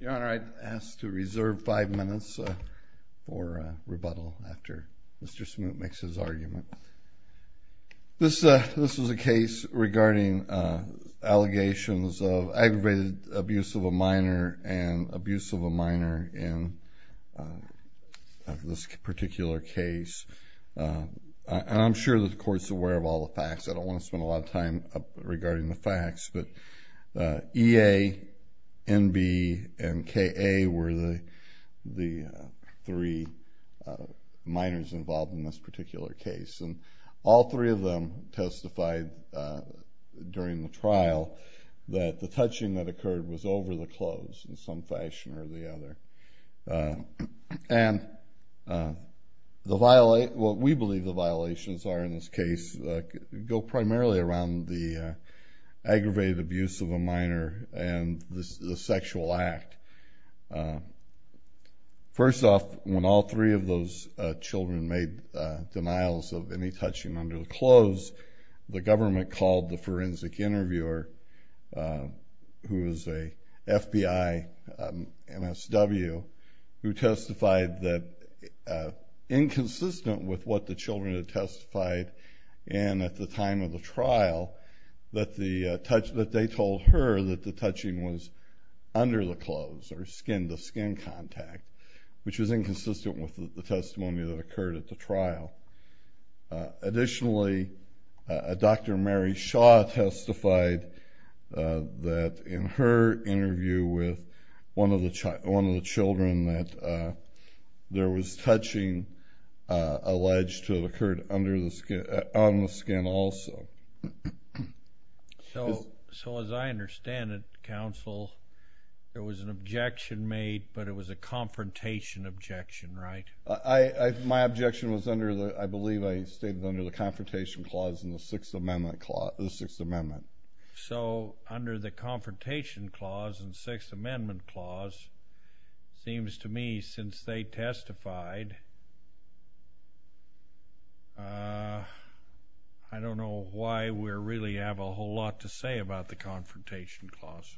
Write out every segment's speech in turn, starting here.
Your Honor, I ask to reserve five minutes for rebuttal after Mr. Smoot makes his argument. This was a case regarding allegations of aggravated abuse of a minor and abuse of a minor in this particular case. I'm sure that the court's aware of all the facts. I don't want to spend a lot of time regarding the facts, but EA, NB, and KA were the the three minors involved in this particular case. And all three of them testified during the trial that the touching that occurred was over the clothes in some fashion or the other. And what we believe the violations are in this case go primarily around the aggravated abuse of a minor and the sexual act. First off, when all three of those children made denials of any touching under the clothes, the government called the forensic interviewer, who is a FBI MSW, who testified that inconsistent with what the children had testified, and at the time of the trial that they told her that the touching was under the clothes or skin-to-skin contact, which was inconsistent with the testimony that occurred at the trial. Additionally, Dr. Mary Shaw testified that in her interview with one of the children that there was touching alleged to have occurred under the skin, on the skin also. So as I understand it, counsel, there was an objection made, but it was a confrontation objection, right? I, my objection was under the, I believe I stated under the Confrontation Clause and the Sixth Amendment Clause, the Sixth Amendment. So under the I don't know why we really have a whole lot to say about the Confrontation Clause.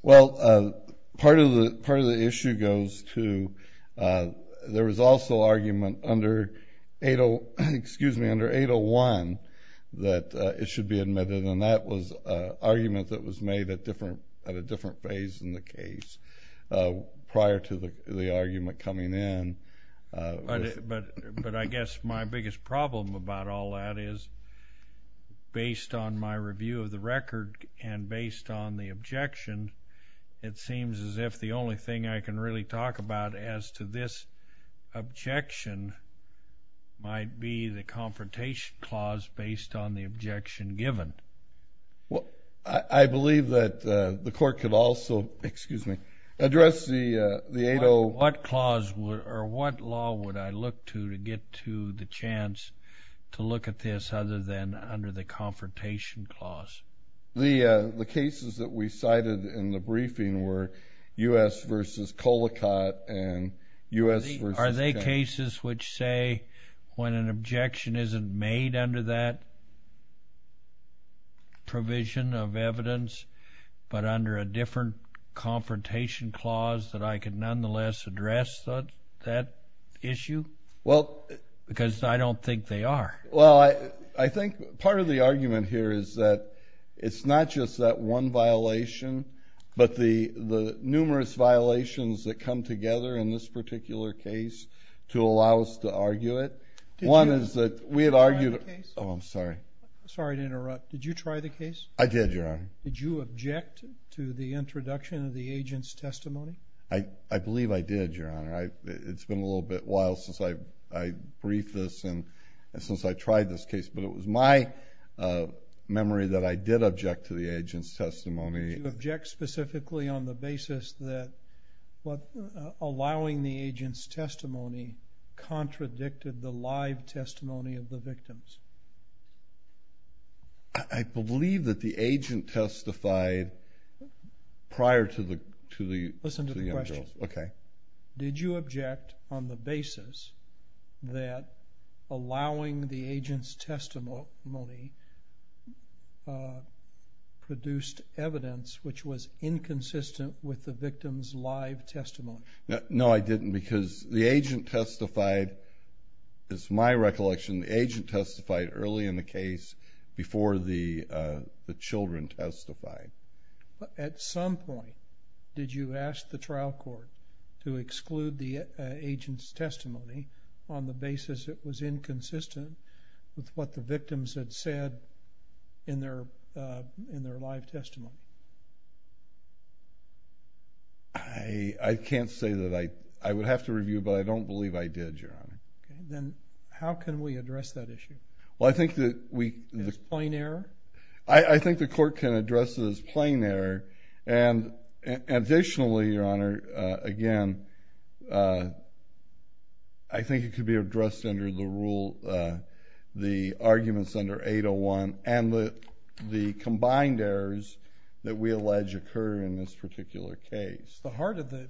Well, part of the, part of the issue goes to, there was also argument under 80, excuse me, under 801 that it should be admitted, and that was an argument that was made at different, at a different phase in the case, prior to the argument coming in. But, but, but I guess my biggest problem about all that is, based on my review of the record and based on the objection, it seems as if the only thing I can really talk about as to this objection might be the Confrontation Clause based on the objection given. Well, I believe that the 80, excuse me, addressed the, the 80. What clause would, or what law would I look to to get to the chance to look at this other than under the Confrontation Clause? The, the cases that we cited in the briefing were U.S. versus Colicott, and U.S. versus. Are they cases which say when an objection isn't made under that Confrontation Clause that I could nonetheless address that, that issue? Well. Because I don't think they are. Well, I, I think part of the argument here is that it's not just that one violation, but the, the numerous violations that come together in this particular case to allow us to argue it. One is that we had argued. Oh, I'm sorry. Sorry to interrupt. Did you try the case? I did, Your Honor. Did you object to the introduction of the agent's testimony? I, I believe I did, Your Honor. I, it's been a little bit while since I, I briefed this and since I tried this case. But it was my memory that I did object to the agent's testimony. Did you object specifically on the basis that what, allowing the agent's testimony contradicted the live testimony of the victims? I, I believe that the agent testified prior to the, to the. Listen to the question. Okay. Did you object on the basis that allowing the agent's testimony produced evidence which was inconsistent with the victim's live testimony? No, I didn't because the agent testified, it's my recollection, the agent testified early in the case before the, the children testified. At some point, did you ask the trial court to exclude the agent's testimony on the basis it was inconsistent with what the victims had said in their, in their live testimony? I, I can't say that I, I would have to review, but I don't believe I did, Your Honor. Okay, then how can we I, I think the court can address it as plain error and, and additionally, Your Honor, again, I think it could be addressed under the rule, the arguments under 801 and the, the combined errors that we allege occur in this particular case. The heart of the,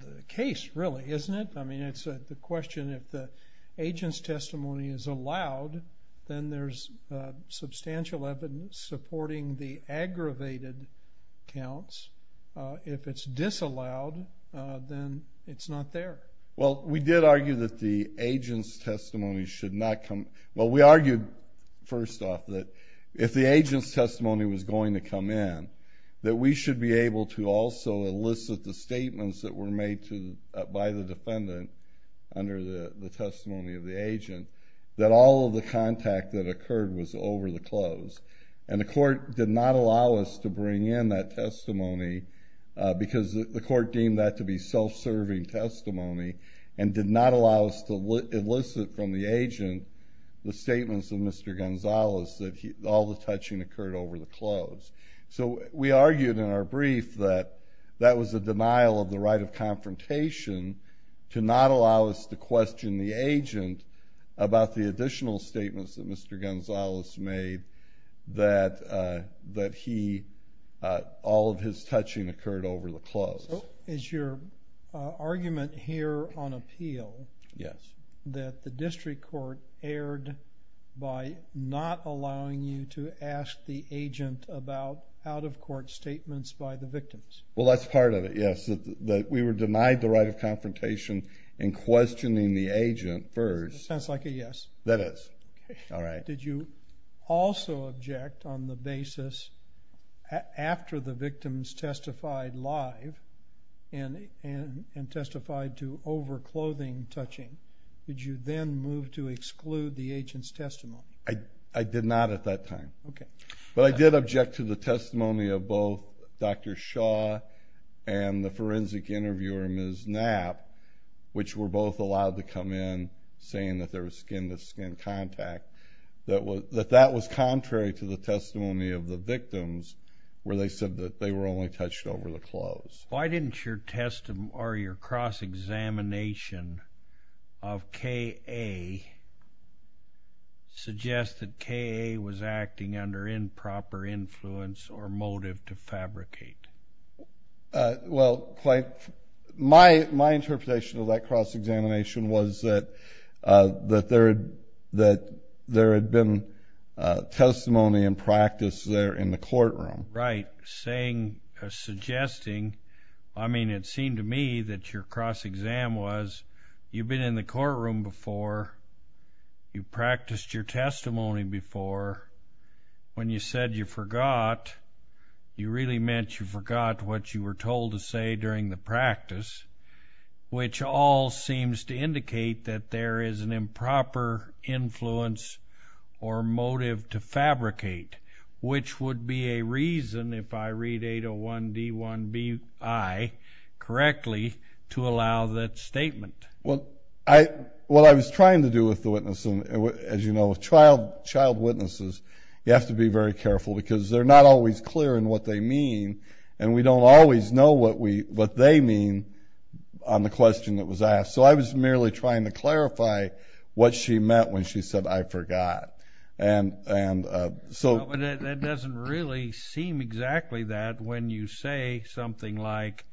the case really, isn't it? I mean, it's a, the question is, if the agent's testimony is allowed, then there's substantial evidence supporting the aggravated counts. If it's disallowed, then it's not there. Well, we did argue that the agent's testimony should not come, well, we argued, first off, that if the agent's testimony was going to come in, that we should be able to also elicit the statements that were made to, by the testimony of the agent, that all of the contact that occurred was over the close. And the court did not allow us to bring in that testimony because the court deemed that to be self-serving testimony and did not allow us to elicit from the agent the statements of Mr. Gonzales that he, all the touching occurred over the close. So, we argued in our brief that that was a denial of the right of confrontation to not allow us to question the agent about the additional statements that Mr. Gonzales made that, that he, all of his touching occurred over the close. So, is your argument here on appeal? Yes. That the district court erred by not allowing you to ask the agent about out-of-court statements by the victims? Well, that's part of it, yes. That we were denied the right of confrontation in questioning the agent first. Sounds like a yes. That is. All right. Did you also object on the basis, after the victims testified live and, and testified to over-clothing touching, did you then move to exclude the agent's testimony? I, I did not at that time. Okay. But I did object to the testimony of both Dr. Shaw and the forensic interviewer, Ms. Knapp, which were both allowed to come in saying that there was skin-to-skin contact. That was, that that was contrary to the testimony of the victims where they said that they were only touched over the close. Why didn't your testimony, or your cross-examination of K.A. suggest that K.A. was acting under improper influence or motive to fabricate? Well, quite, my, my interpretation of that cross-examination was that, that there had, that there had been testimony in practice there in the courtroom. Right. Saying, suggesting, I mean, it seemed to me that your cross-exam was, you've been in the courtroom before, you practiced your testimony before, when you said you forgot, you really meant you forgot what you were told to say during the practice, which all seems to indicate that there is an improper influence or motive to fabricate, which would be a reason, if I read 801 D 1 B I correctly, to allow that statement. Well, I, what I was trying to do with the witnesses, you have to be very careful, because they're not always clear in what they mean, and we don't always know what we, what they mean on the question that was asked. So I was merely trying to clarify what she meant when she said, I forgot. And, and so. That doesn't really seem exactly that when you say something like,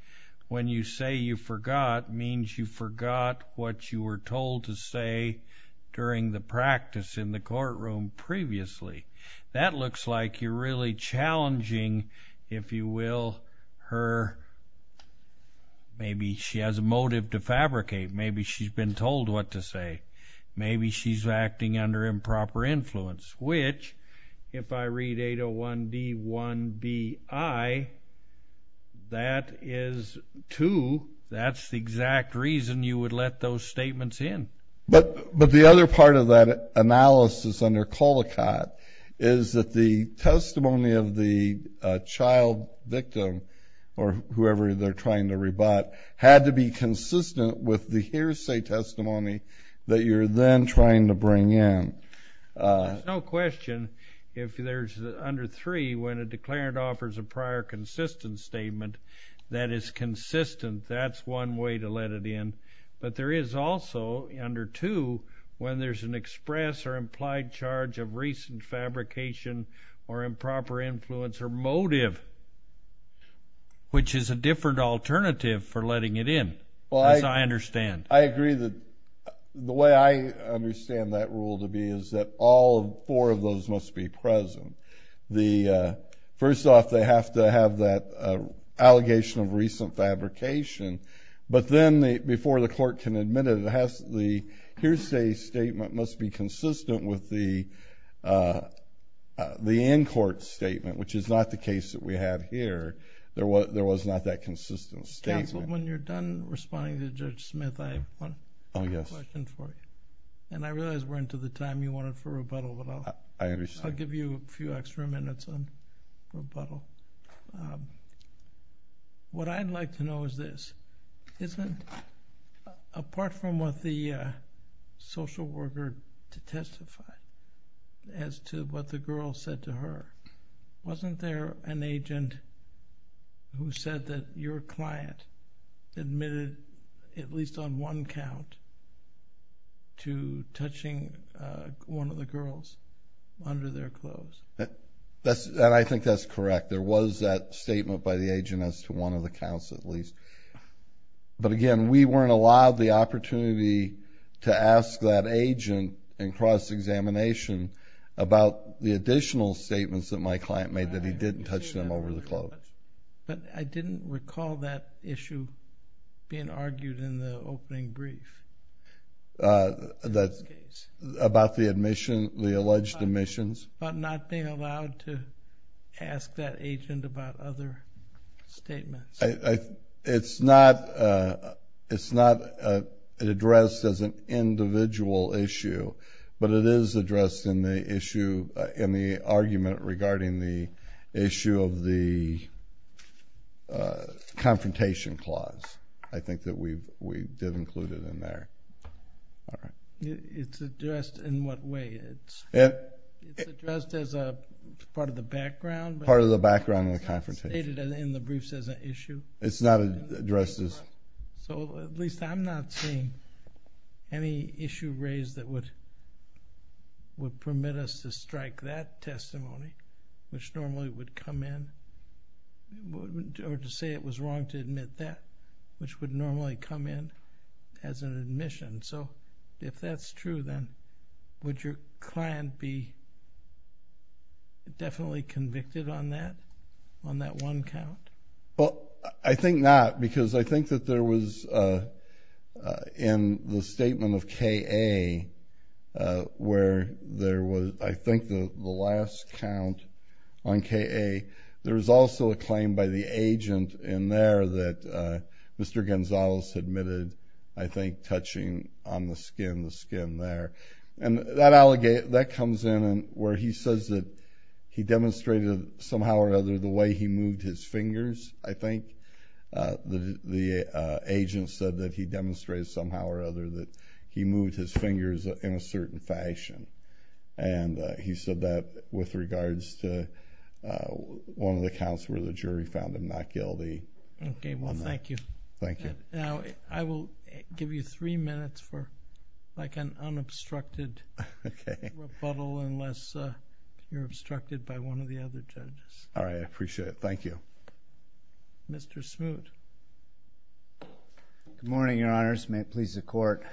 when you say you forgot, means you forgot what you were told to say during the practice in the courtroom previously. That looks like you're really challenging, if you will, her, maybe she has a motive to fabricate, maybe she's been told what to say, maybe she's acting under improper influence, which, if I read 801 D 1 B I, that is too, that's the exact reason you would let those witnesses in. But, but the other part of that analysis under Colicott is that the testimony of the child victim, or whoever they're trying to rebut, had to be consistent with the hearsay testimony that you're then trying to bring in. There's no question, if there's, under three, when a declarant offers a prior consistent statement that is consistent, that's one way to let it in. But there is also, under two, when there's an express or implied charge of recent fabrication or improper influence or motive, which is a different alternative for letting it in, as I understand. I agree that the way I understand that rule to be is that all four of those must be present. The, first off, they have to have that allegation of hearsay statement must be consistent with the, the in-court statement, which is not the case that we have here. There was, there was not that consistent statement. Counsel, when you're done responding to Judge Smith, I have one question for you. And I realize we're into the time you wanted for rebuttal, but I'll, I'll give you a few extra minutes on rebuttal. What I'd like to know is this. Isn't, apart from what the social worker testified as to what the girl said to her, wasn't there an agent who said that your client admitted, at least on one count, to touching one of the girls under their clothes? That's, and I think that's correct. There was that statement by the agent as to one of the counts, at least. But again, we weren't allowed the opportunity to ask that agent in cross-examination about the additional statements that my client made that he didn't touch them over the clothes. But I didn't recall that issue being argued in the opening brief. That's about the admission, the alleged admissions. But not being allowed to ask that agent about other statements. I, I, it's not, it's not addressed as an individual issue, but it is addressed in the issue, in the argument regarding the issue of the confrontation clause. I think that we've, we did include it in there. All right. It's addressed in what way? It's. It. It's addressed as a part of the background. Part of the background of the confrontation. It's not stated in the briefs as an issue. It's not addressed as. So at least I'm not seeing any issue raised that would, would permit us to strike that testimony, which normally would come in, or to say it was wrong to admit that, which would normally come in as an admission. So, if that's true then, would your client be definitely convicted on that? On that one count? Well, I think not, because I think that there was in the statement of K.A., where there was, I think the, the last count on K.A., there was also a claim by the agent in there that Mr. Gonzalez admitted, I think, touching on the skin, the skin there. And that allegate, that comes in where he says that he demonstrated somehow or other the way he moved his fingers, I think. The, the agent said that he demonstrated somehow or other that he moved his fingers in a certain fashion. And he said that with regards to one of the counts where the jury found him not guilty. Okay. Well, thank you. Thank you. We have three minutes for like an unobstructed rebuttal unless you're obstructed by one of the other judges. All right. I appreciate it. Thank you. Mr. Smoot. Good morning, Your Honors. May it please the Court.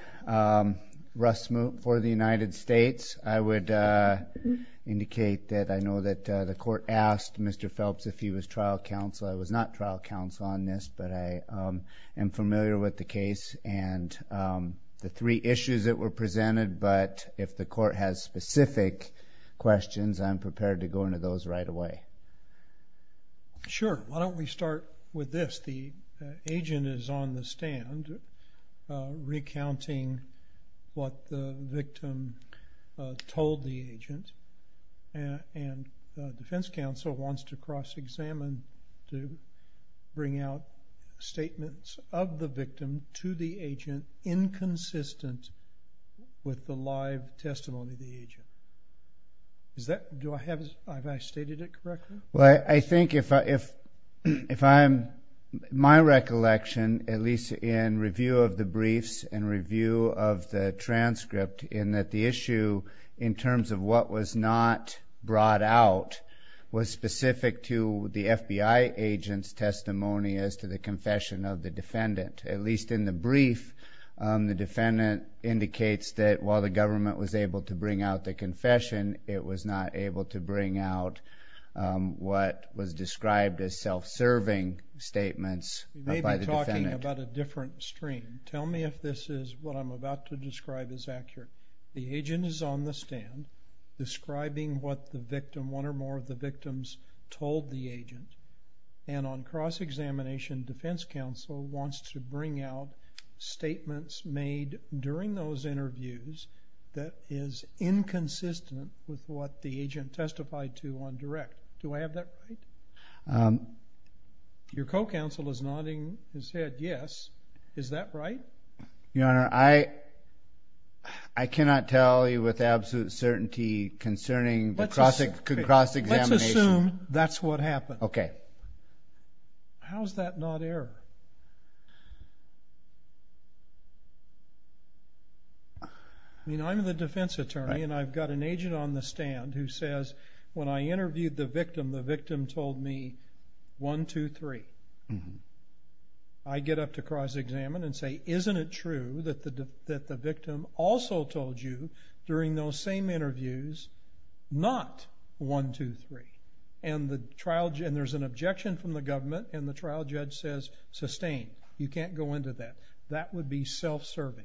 Russ Smoot for the United States. I would indicate that I know that the Court asked Mr. Phelps if he was trial counsel. I was not trial counsel on this, but I am familiar with the case and the three issues that were presented. But if the Court has specific questions, I'm prepared to go into those right away. Sure. Why don't we start with this. The agent is on the stand recounting what the victim told the agent. And the defense counsel wants to cross-examine to bring out statements of the victim to the agent inconsistent with the live testimony of the agent. Have I stated it correctly? Well, I think if my recollection, at least in review of the briefs and review of the transcript, in that the FBI agent's testimony as to the confession of the defendant. At least in the brief, the defendant indicates that while the government was able to bring out the confession, it was not able to bring out what was described as self-serving statements by the defendant. We may be talking about a different stream. Tell me if this is what I'm about to describe is accurate. The agent is on the stand describing what the victim, one or more of the victims, told the agent. And on cross-examination, defense counsel wants to bring out statements made during those interviews that is inconsistent with what the agent testified to on direct. Do I have that right? Your co-counsel is nodding his head yes. Is that right? Your Honor, I cannot tell you with absolute certainty concerning the cross-examination. Let's assume that's what happened. Okay. How's that not error? I mean, I'm the defense attorney and I've got an agent on the stand who says when I interviewed the victim, the victim told me one, two, three. I get up to cross-examine and say isn't it true that the victim also told you during those same interviews not one, two, three. And the trial judge, and there's an objection from the government, and the trial judge says sustain. You can't go into that. That would be self-serving.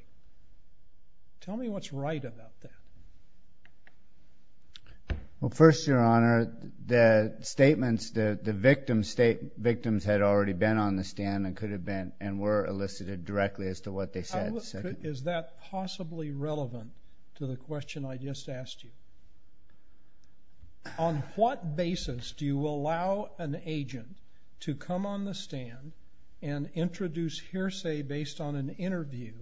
Tell me what's right about that. Well, first, Your Honor, the statements that the victims had already been on the stand and could have been and were elicited directly as to what they said. Is that possibly relevant to the question I just asked you? On what basis do you allow an agent to come on the stand and introduce hearsay based on an interview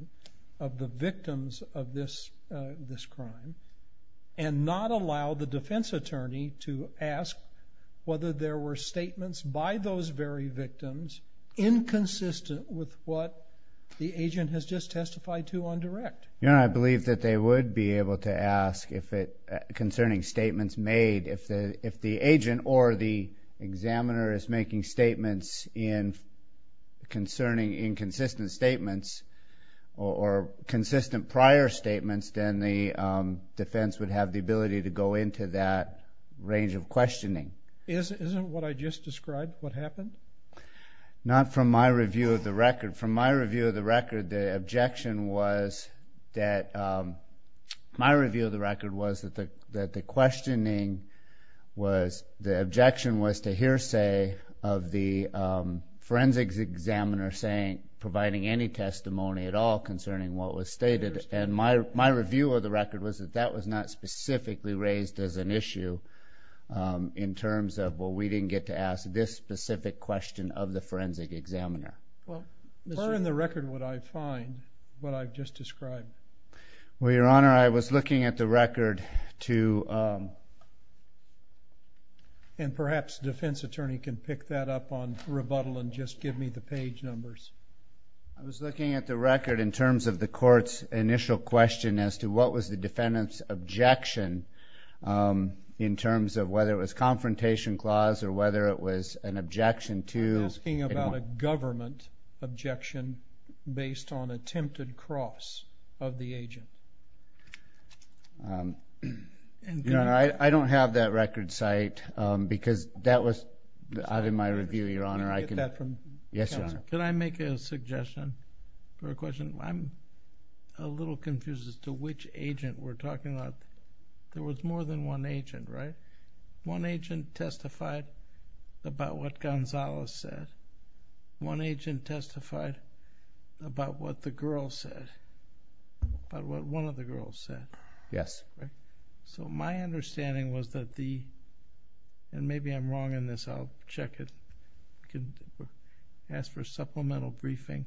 of the victims of this this crime and not allow the defense attorney to ask whether there were statements by those very victims inconsistent with what the agent has just testified to on direct? Your Honor, I believe that they would be able to ask concerning statements made. If the agent or the examiner is making statements concerning inconsistent statements or consistent prior statements, then the defense would have the ability to go into that range of questioning. Isn't what I just described what happened? Not from my review of the record. From my review of the record, the objection was that my review of the record was that the questioning was the objection was to hear say of the forensics examiner saying providing any testimony at all concerning what was stated. And my review of the record was that that was not specifically raised as an issue in terms of, well, we didn't get to ask this specific question of the forensic examiner. Well, where in the record would I find what I've just described? Well, Your Honor, I was looking at the record to, and perhaps defense attorney can pick that up on rebuttal and just give me the page numbers. I was looking at the record in terms of the court's initial question as to what was the defendant's objection in terms of whether it was confrontation clause or whether it was an objection to... I'm asking about a government objection based on attempted cross of the agent. Your Honor, I don't have that record site because that was out of my review, Your Honor. Can I make a suggestion or a question? I'm a little confused as to which agent we're talking about. There was one agent testified about what Gonzales said. One agent testified about what the girl said, about what one of the girls said. Yes. So my understanding was that the, and maybe I'm wrong in this, I'll check it, ask for supplemental briefing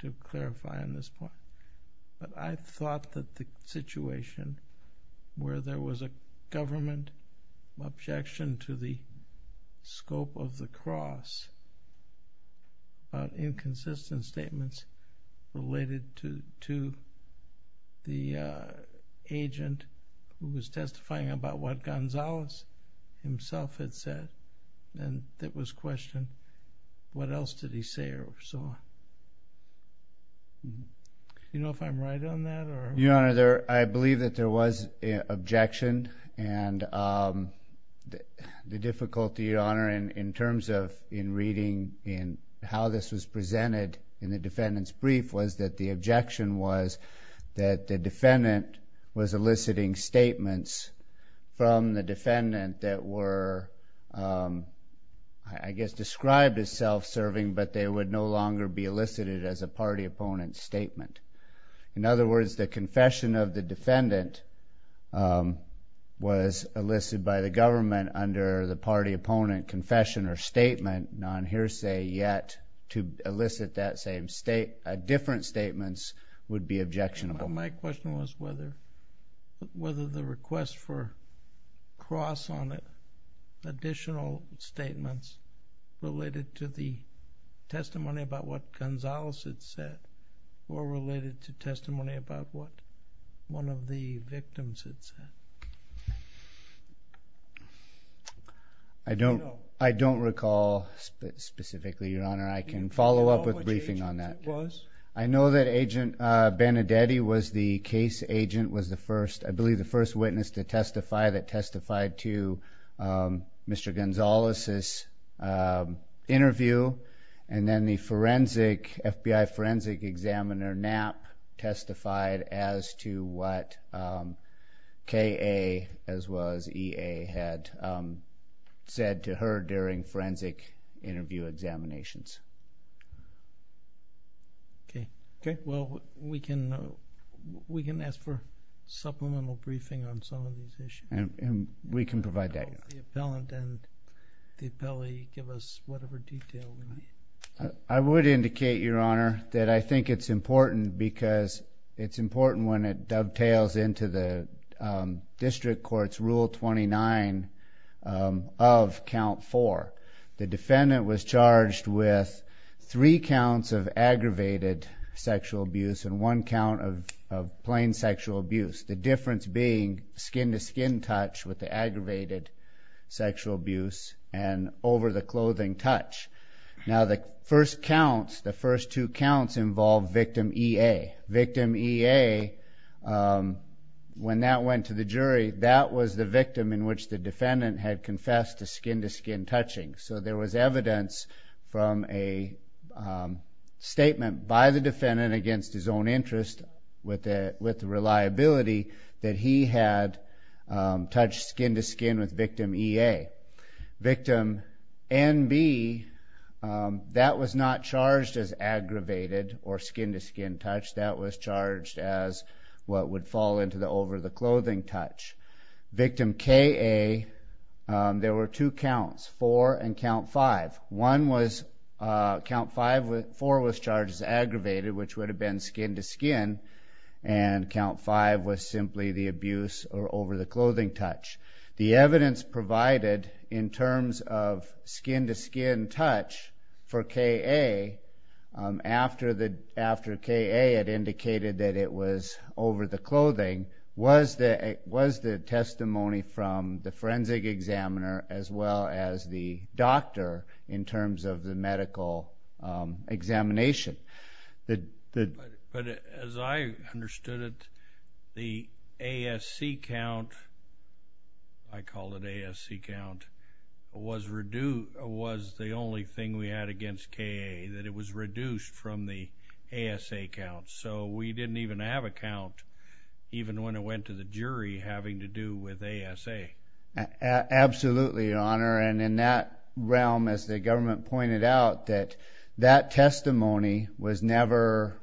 to clarify on this point. But I thought that the situation where there was a government objection to the scope of the cross about inconsistent statements related to the agent who was testifying about what Gonzales himself had said, and that was questioned, what else did he say or so on? You know if I'm right on that or... Your Honor, I believe that there was an objection and the difficulty, Your Honor, in terms of in reading in how this was presented in the defendant's brief was that the objection was that the defendant was eliciting statements from the defendant that were, I guess, described as self-serving but they would no longer be elicited as a party opponent's In other words, the confession of the defendant was elicited by the government under the party opponent confession or statement, non-hearsay yet, to elicit that same statement, different statements would be objectionable. My question was whether the request for cross on additional statements related to the testimony about what Gonzales had said or related to testimony about what one of the victims had said. I don't recall specifically, Your Honor. I can follow up with briefing on that. I know that Agent Benedetti was the case agent, was the first, I believe the first witness to testify that testified to Mr. Gonzales' interview and then the forensic, FBI forensic examiner, Knapp, testified as to what KA as well as EA had said to her during forensic interview examinations. Okay. Well, we can ask for supplemental briefing on some of these issues. And we can provide that. The appellant and the appellee give us whatever detail we need. I would indicate, Your Honor, that I think it's important because it's important when it dovetails into the district court's Rule 29 of Count 4. The defendant was charged with three counts of aggravated sexual abuse and one count of plain sexual abuse, the difference being skin-to-skin touch with the aggravated sexual abuse and over-the-clothing touch. Now, the first counts, the first two counts involve victim EA. Victim EA, when that went to the jury, that was the victim in which the defendant had confessed to skin-to-skin touching. So there was evidence from a statement by the defendant against his own interest with the reliability that he had touched skin-to-skin with victim EA. Victim NB, that was not charged as aggravated or skin-to-skin touch. That was charged as what would fall into the over-the-clothing touch. Victim KA, there were two counts, 4 and Count 5. One was, Count 4 was charged as aggravated, which would have been skin-to-skin, and Count 5 was simply the abuse or over-the-clothing touch. The evidence provided in terms of skin-to-skin touch for KA, after KA had indicated that it was over-the-clothing, was the testimony from the forensic examiner as well as the doctor in terms of the medical examination. But as I understood it, the ASC count, I call it ASC count, was the only thing we had against KA, that it was reduced from the ASA count. So we didn't even have a count even when it went to the jury having to do with ASA. Absolutely, Your Honor. And in that realm, as the government pointed out, that that testimony was never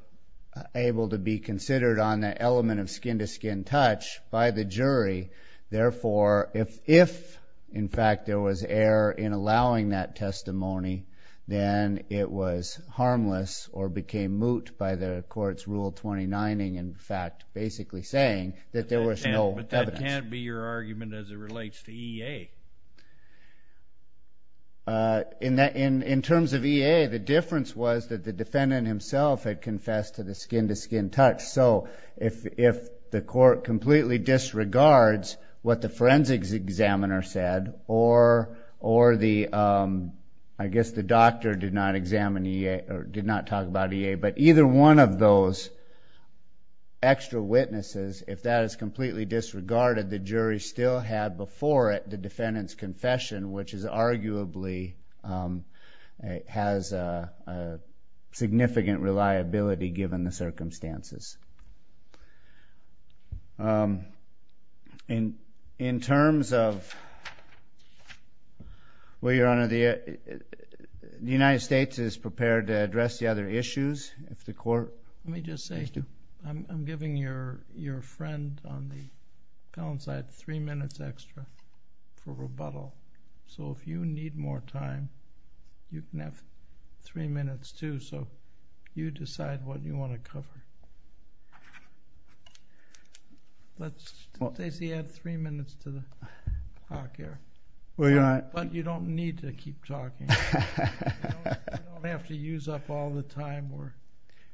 able to be considered on the element of skin-to-skin touch by the jury. Therefore, if, in fact, there was error in allowing that testimony, then it was harmless or became moot by the court's rule 29-ing, in fact, basically saying that there was no evidence. But that can't be your argument as it relates to EA. In terms of EA, the difference was that the defendant himself had confessed to the skin-to-skin touch. So if the court completely disregards what the forensics examiner said, or I guess the doctor did not examine EA or did not talk about EA, but either one of those extra witnesses, if that is completely disregarded, the jury still had before it the defendant's circumstances. And in terms of, well, Your Honor, the United States is prepared to address the other issues if the court has to. Let me just say, I'm giving your friend on the panel side three minutes extra for rebuttal. So if you need more time, you can have three minutes, too. So you decide what you want to cover. Let's, Stacy, add three minutes to the talk here. But you don't need to keep talking. You don't have to use up all the time we're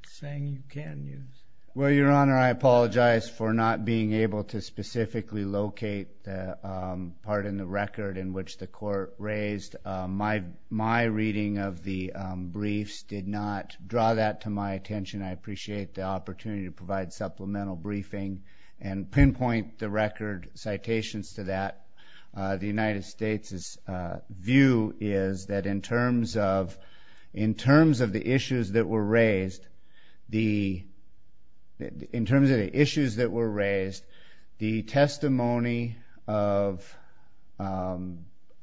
saying you can use. Well, Your Honor, I apologize for not being able to specifically locate the part in the record in which the court raised. My reading of the briefs did not draw that to my attention. I appreciate the opportunity to provide supplemental briefing and pinpoint the record citations to that. The United States' view is that in terms of the issues that were raised, the testimony of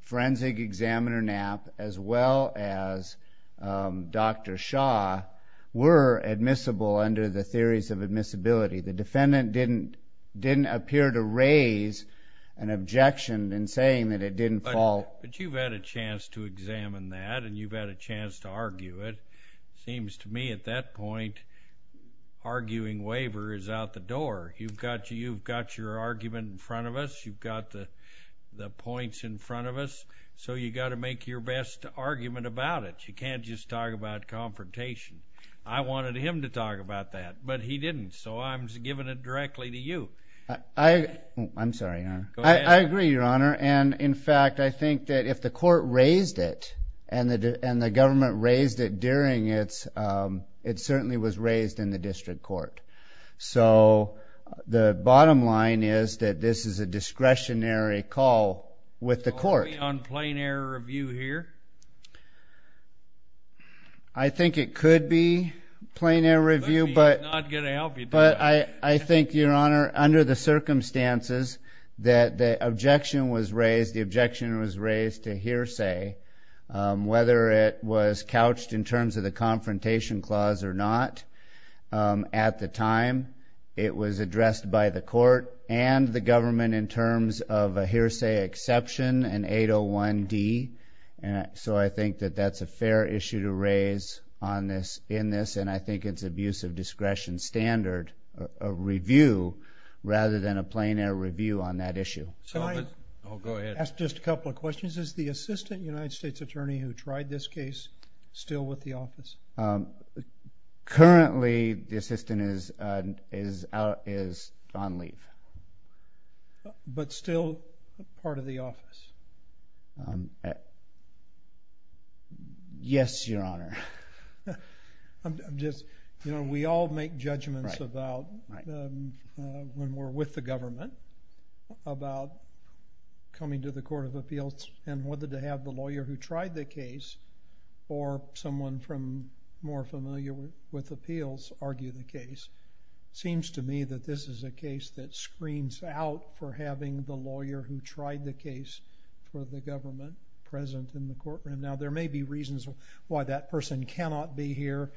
forensic examiner Knapp, as well as Dr. Shaw, were admissible under the theories of admissibility. The defendant didn't appear to raise an objection in saying that it didn't fall. But you've had a chance to examine that, and you've had a chance to argue it. Seems to me at that point, arguing waiver is out the door. You've got your argument in front of us. You've got the points in front of us. So you've got to make your best argument about it. You can't just talk about confrontation. I wanted him to talk about that, but he didn't. So I'm just giving it directly to you. I'm sorry, Your Honor. I agree, Your Honor. And in fact, I think that if the court raised it, and the government raised it during it, it certainly was raised in the district court. So the bottom line is that this is a discretionary call with the court. Are we on plain error review here? I think it could be plain error review. He's not going to help you. But I think, Your Honor, under the circumstances that the objection was raised, the objection was raised to hearsay, whether it was couched in terms of the confrontation clause or not. At the time, it was addressed by the court and the government in terms of a hearsay exception, an 801D. So I think that that's a fair issue to raise in this. And I think it's abuse of discretion standard, a review, rather than a plain error review on that issue. So I'll ask just a couple of questions. Is the assistant United States attorney who tried this case still with the office? Currently, the assistant is on leave. But still part of the office? Yes, Your Honor. I'm just, you know, we all make judgments about, when we're with the government, about coming to the Court of Appeals and whether to have the lawyer who tried the case or someone from, more familiar with appeals, argue the case. It seems to me that this is a case that screens out for having the lawyer who tried the case for the government present in the courtroom. Now, there may be reasons why that person cannot be here.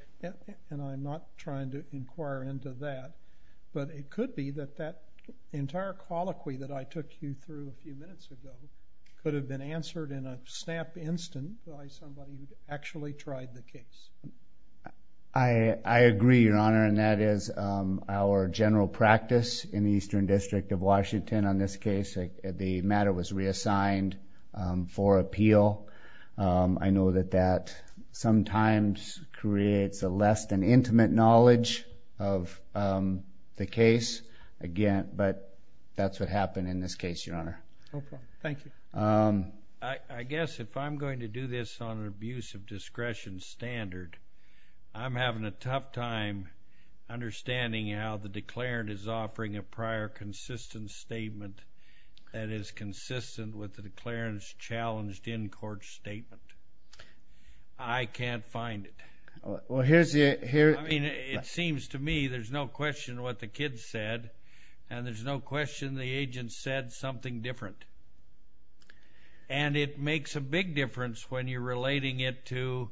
And I'm not trying to inquire into that. But it could be that that entire colloquy that I took you through a few minutes ago could have been answered in a snap instant by somebody who actually tried the case. I agree, Your Honor. And that is our general practice in the Eastern District of Washington. And on this case, the matter was reassigned for appeal. I know that that sometimes creates a less than intimate knowledge of the case. Again, but that's what happened in this case, Your Honor. Thank you. I guess if I'm going to do this on an abuse of discretion standard, I'm having a tough time understanding how the declarant is offering a prior consistent statement that is consistent with the declarant's challenged in-court statement. I can't find it. Well, here's the, here, I mean, it seems to me there's no question what the kid said. And there's no question the agent said something different. And it makes a big difference when you're relating it to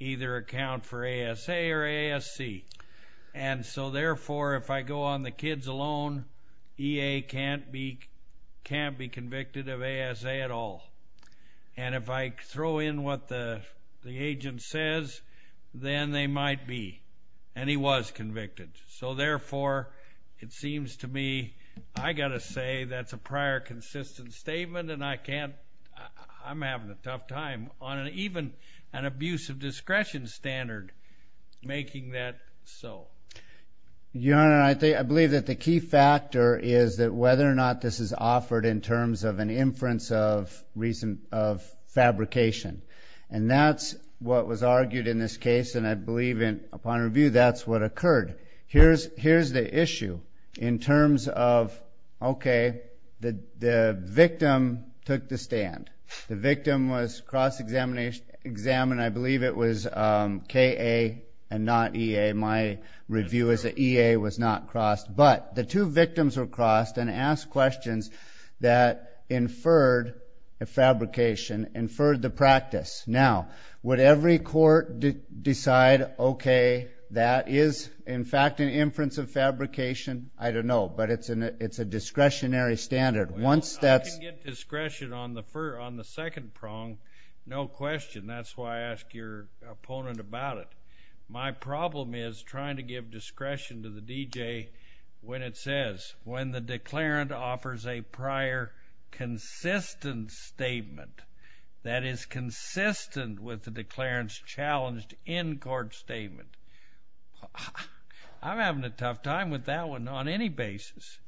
either account for ASA or ASC. And so, therefore, if I go on the kids alone, EA can't be convicted of ASA at all. And if I throw in what the agent says, then they might be. And he was convicted. So, therefore, it seems to me I got to say that's a prior consistent statement and I can't, I'm having a tough time. On an even, an abuse of discretion standard, making that so. Your Honor, I think, I believe that the key factor is that whether or not this is offered in terms of an inference of recent, of fabrication. And that's what was argued in this case. And I believe in, upon review, that's what occurred. Here's, here's the issue in terms of, okay, the, the victim took the stand. The victim was cross examined, I believe it was KA and not EA. My review is that EA was not crossed. But the two victims were crossed and asked questions that inferred a fabrication, inferred the practice. Now, would every court decide, okay, that is, in fact, an inference of fabrication? I don't know, but it's an, it's a discretionary standard. Once that's. I can get discretion on the, on the second prong, no question. That's why I ask your opponent about it. My problem is trying to give discretion to the DJ when it says, when the declarant offers a prior consistent statement. That is consistent with the declarant's challenged in-court statement. I'm having a tough time with that one on any basis.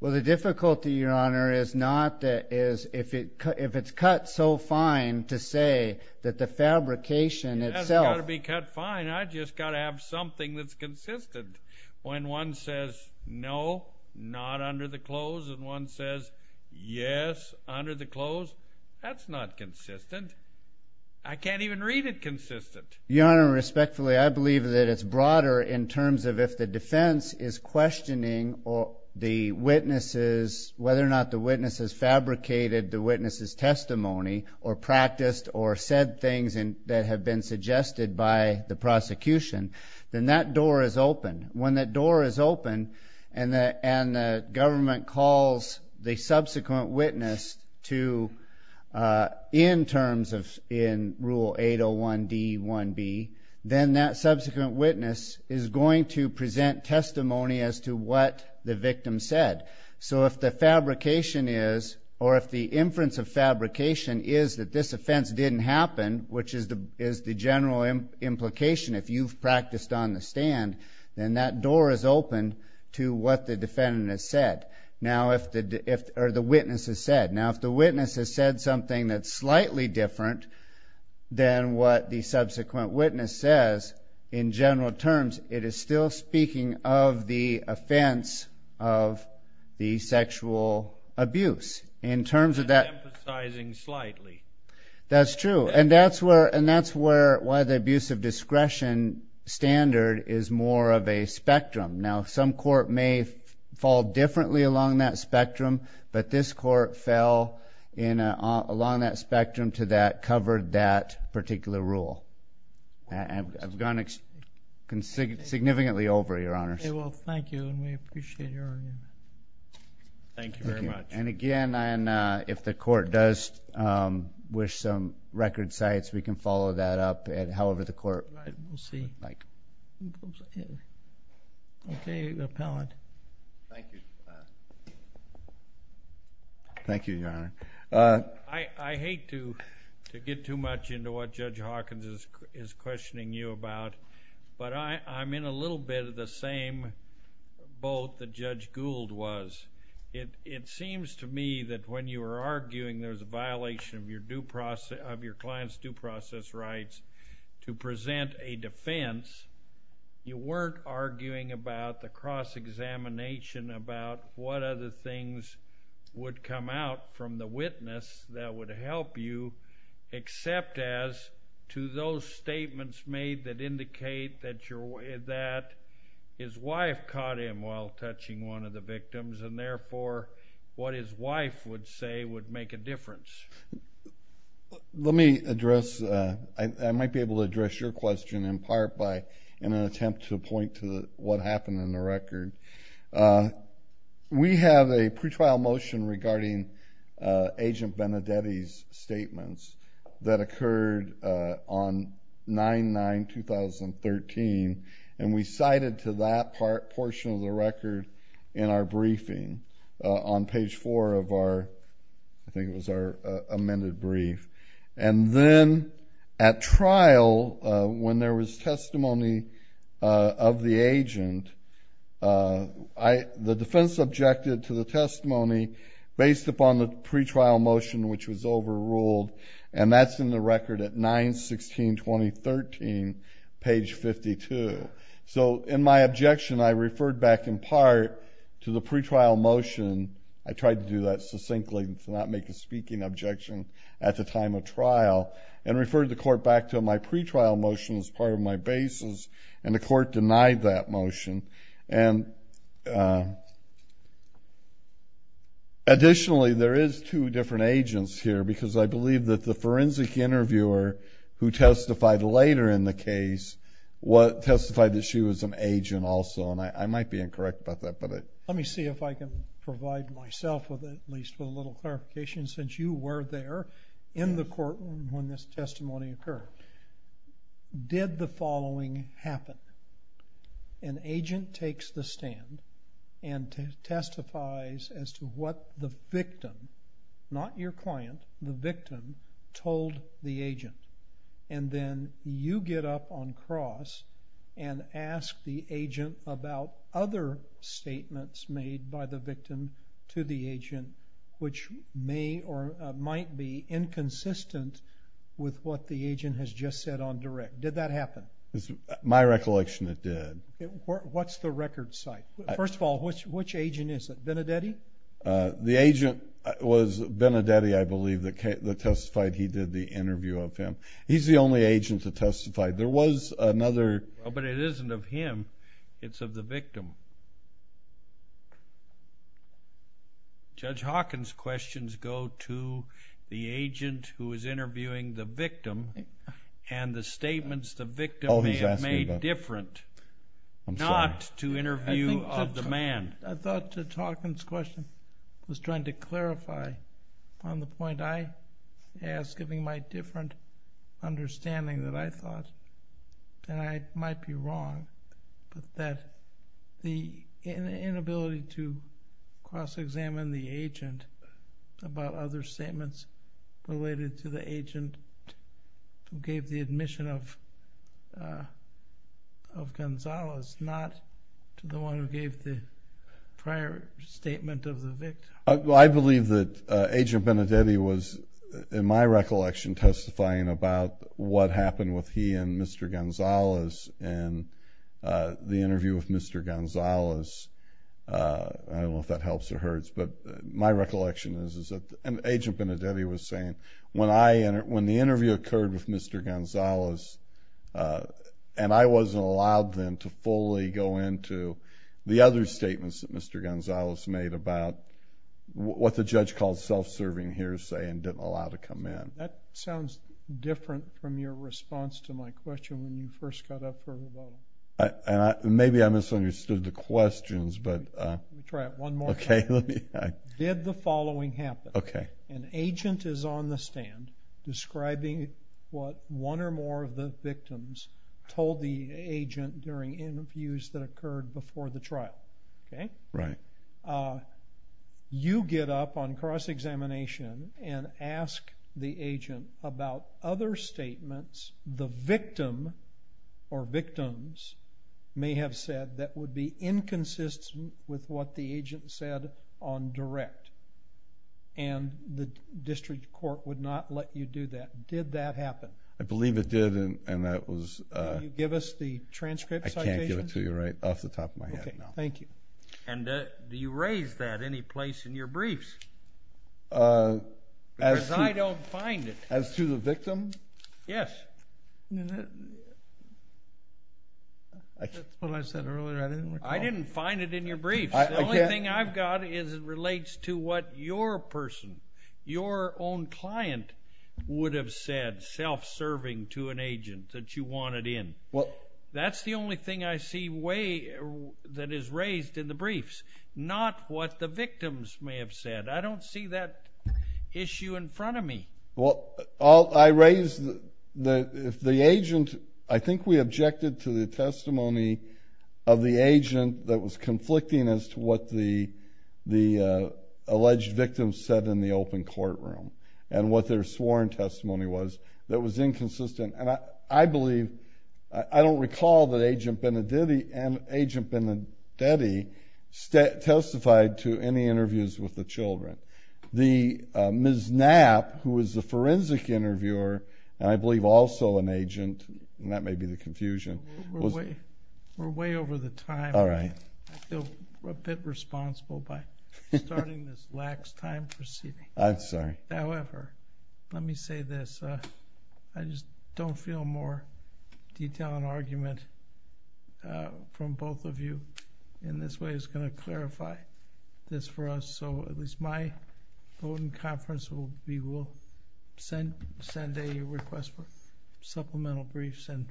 Well, the difficulty, your honor, is not that, is if it, if it's cut so fine to say that the fabrication itself. It hasn't got to be cut fine. I just got to have something that's consistent. When one says, no, not under the close, and one says, yes, under the close, that's not consistent. I can't even read it consistent. Your honor, respectfully, I believe that it's broader in terms of if the defense is questioning the witnesses, whether or not the witness has fabricated the witness's testimony, or practiced, or said things that have been suggested by the prosecution, then that door is open. When that door is open, and the, and the government calls the subsequent witness to, in terms of, in rule 801 D1B, then that subsequent witness is going to present testimony as to what the victim said. So if the fabrication is, or if the inference of fabrication is that this offense didn't happen, which is the, is the general implication, if you've practiced on the stand, then that door is open to what the defendant has said. Now, if the witness has said something that's slightly different than what the subsequent witness says, in general terms, it is still speaking of the offense of the sexual abuse. In terms of that. Emphasizing slightly. That's true. And that's where, and that's where, why the abuse of discretion standard is more of a spectrum. Now, some court may fall differently along that spectrum, but this court fell in a, along that spectrum to that, covered that particular rule. I've gone significantly over, Your Honors. Well, thank you, and we appreciate your argument. Thank you very much. And again, if the court does wish some record sites, we can follow that up at however the court would like. Okay, the appellant. Thank you. Thank you, Your Honor. I hate to get too much into what Judge Hawkins is questioning you about, but I'm in a little bit of the same boat that Judge Gould was. It seems to me that when you were arguing there's a violation of your due process, of your client's due process rights to present a defense, you weren't arguing about the cross-examination about what other things would come out from the witness that would help you, except as to those statements made that indicate that your, that his wife caught him while touching one of the victims, and therefore, what his wife would say would make a difference. Let me address, I might be able to address your question in part by, in an attempt to point to what happened in the record. We have a pretrial motion regarding Agent Benedetti's statements that occurred on 9-9-2013, and we cited to that portion of the record in our briefing on page four of our, I think it was our amended brief. And then at trial, when there was testimony of the agent, the defense objected to the testimony based upon the pretrial motion, which was overruled, and that's in the record at 9-16-2013, page 52. So in my objection, I referred back in part to the pretrial motion. I tried to do that succinctly, to not make a speaking objection at the time of trial, and referred the court back to my pretrial motion as part of my basis, and the court denied that motion. And additionally, there is two different agents here, because I believe that the forensic interviewer who testified later in the case, what, testified that she was an agent also, and I might be incorrect about that, but I. Let me see if I can provide myself with at least a little clarification, since you were there in the courtroom when this testimony occurred. Did the following happen? An agent takes the stand and testifies as to what the victim, not your client, the victim told the agent, and then you get up on cross and ask the agent about other statements made by the victim to the agent, which may or might be inconsistent with what the agent has just said on direct. Did that happen? My recollection, it did. What's the record site? First of all, which agent is it? Benedetti? The agent was Benedetti, I believe, that testified he did the interview of him. He's the only agent to testify. There was another. But it isn't of him, it's of the victim. Judge Hawkins' questions go to the agent who is interviewing the victim and the statements the victim may have made different not to interview of the man. I thought Judge Hawkins' question was trying to clarify on the point I asked, giving my different understanding that I thought that I might be wrong, but that the inability to cross-examine the agent about other statements related to the agent who gave the admission of Gonzales, not to the one who gave the prior statement of the victim. I believe that Agent Benedetti was, in my recollection, testifying about what happened with he and Mr. Gonzales in the interview with Mr. Gonzales. I don't know if that helps or hurts, but my recollection is that Agent Benedetti was saying, when the interview occurred with Mr. Gonzales, and I wasn't allowed then to fully go into the other statements that Mr. What the judge called self-serving hearsay and didn't allow to come in. That sounds different from your response to my question when you first got up for the vote. Maybe I misunderstood the questions, but. Let me try it one more time. Did the following happen? An agent is on the stand describing what one or more of the victims told the agent during interviews that occurred before the trial. Right. You get up on cross-examination and ask the agent about other statements the victim or victims may have said that would be inconsistent with what the agent said on direct. And the district court would not let you do that. Did that happen? I believe it did, and that was. Can you give us the transcript citation? I can't give it to you right off the top of my head now. And do you raise that any place in your briefs? As to the victim? Yes. That's what I said earlier, I didn't recall. I didn't find it in your briefs. The only thing I've got is it relates to what your person, your own client would have said self-serving to an agent that you wanted in. That's the only thing I see that is raised in the briefs, not what the victims may have said. I don't see that issue in front of me. Well, I raised the agent, I think we objected to the testimony of the agent that was conflicting as to what the alleged victim said in the open courtroom and what their sworn testimony was that was inconsistent. I believe, I don't recall that Agent Benedetti testified to any interviews with the children. The Ms. Knapp, who was the forensic interviewer, and I believe also an agent, and that may be the confusion. We're way over the time, I feel a bit responsible by starting this lax time proceeding. I'm sorry. However, let me say this. I just don't feel more detail and argument from both of you. In this way, it's going to clarify this for us. So at least my voting conference, we will send a request for supplemental briefs, and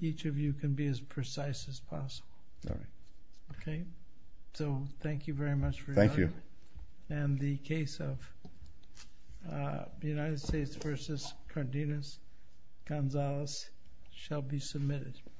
each of you can be as precise as possible. OK? So thank you very much for your time. Thank you. And the case of the United States versus Cardenas-Gonzalez shall be submitted.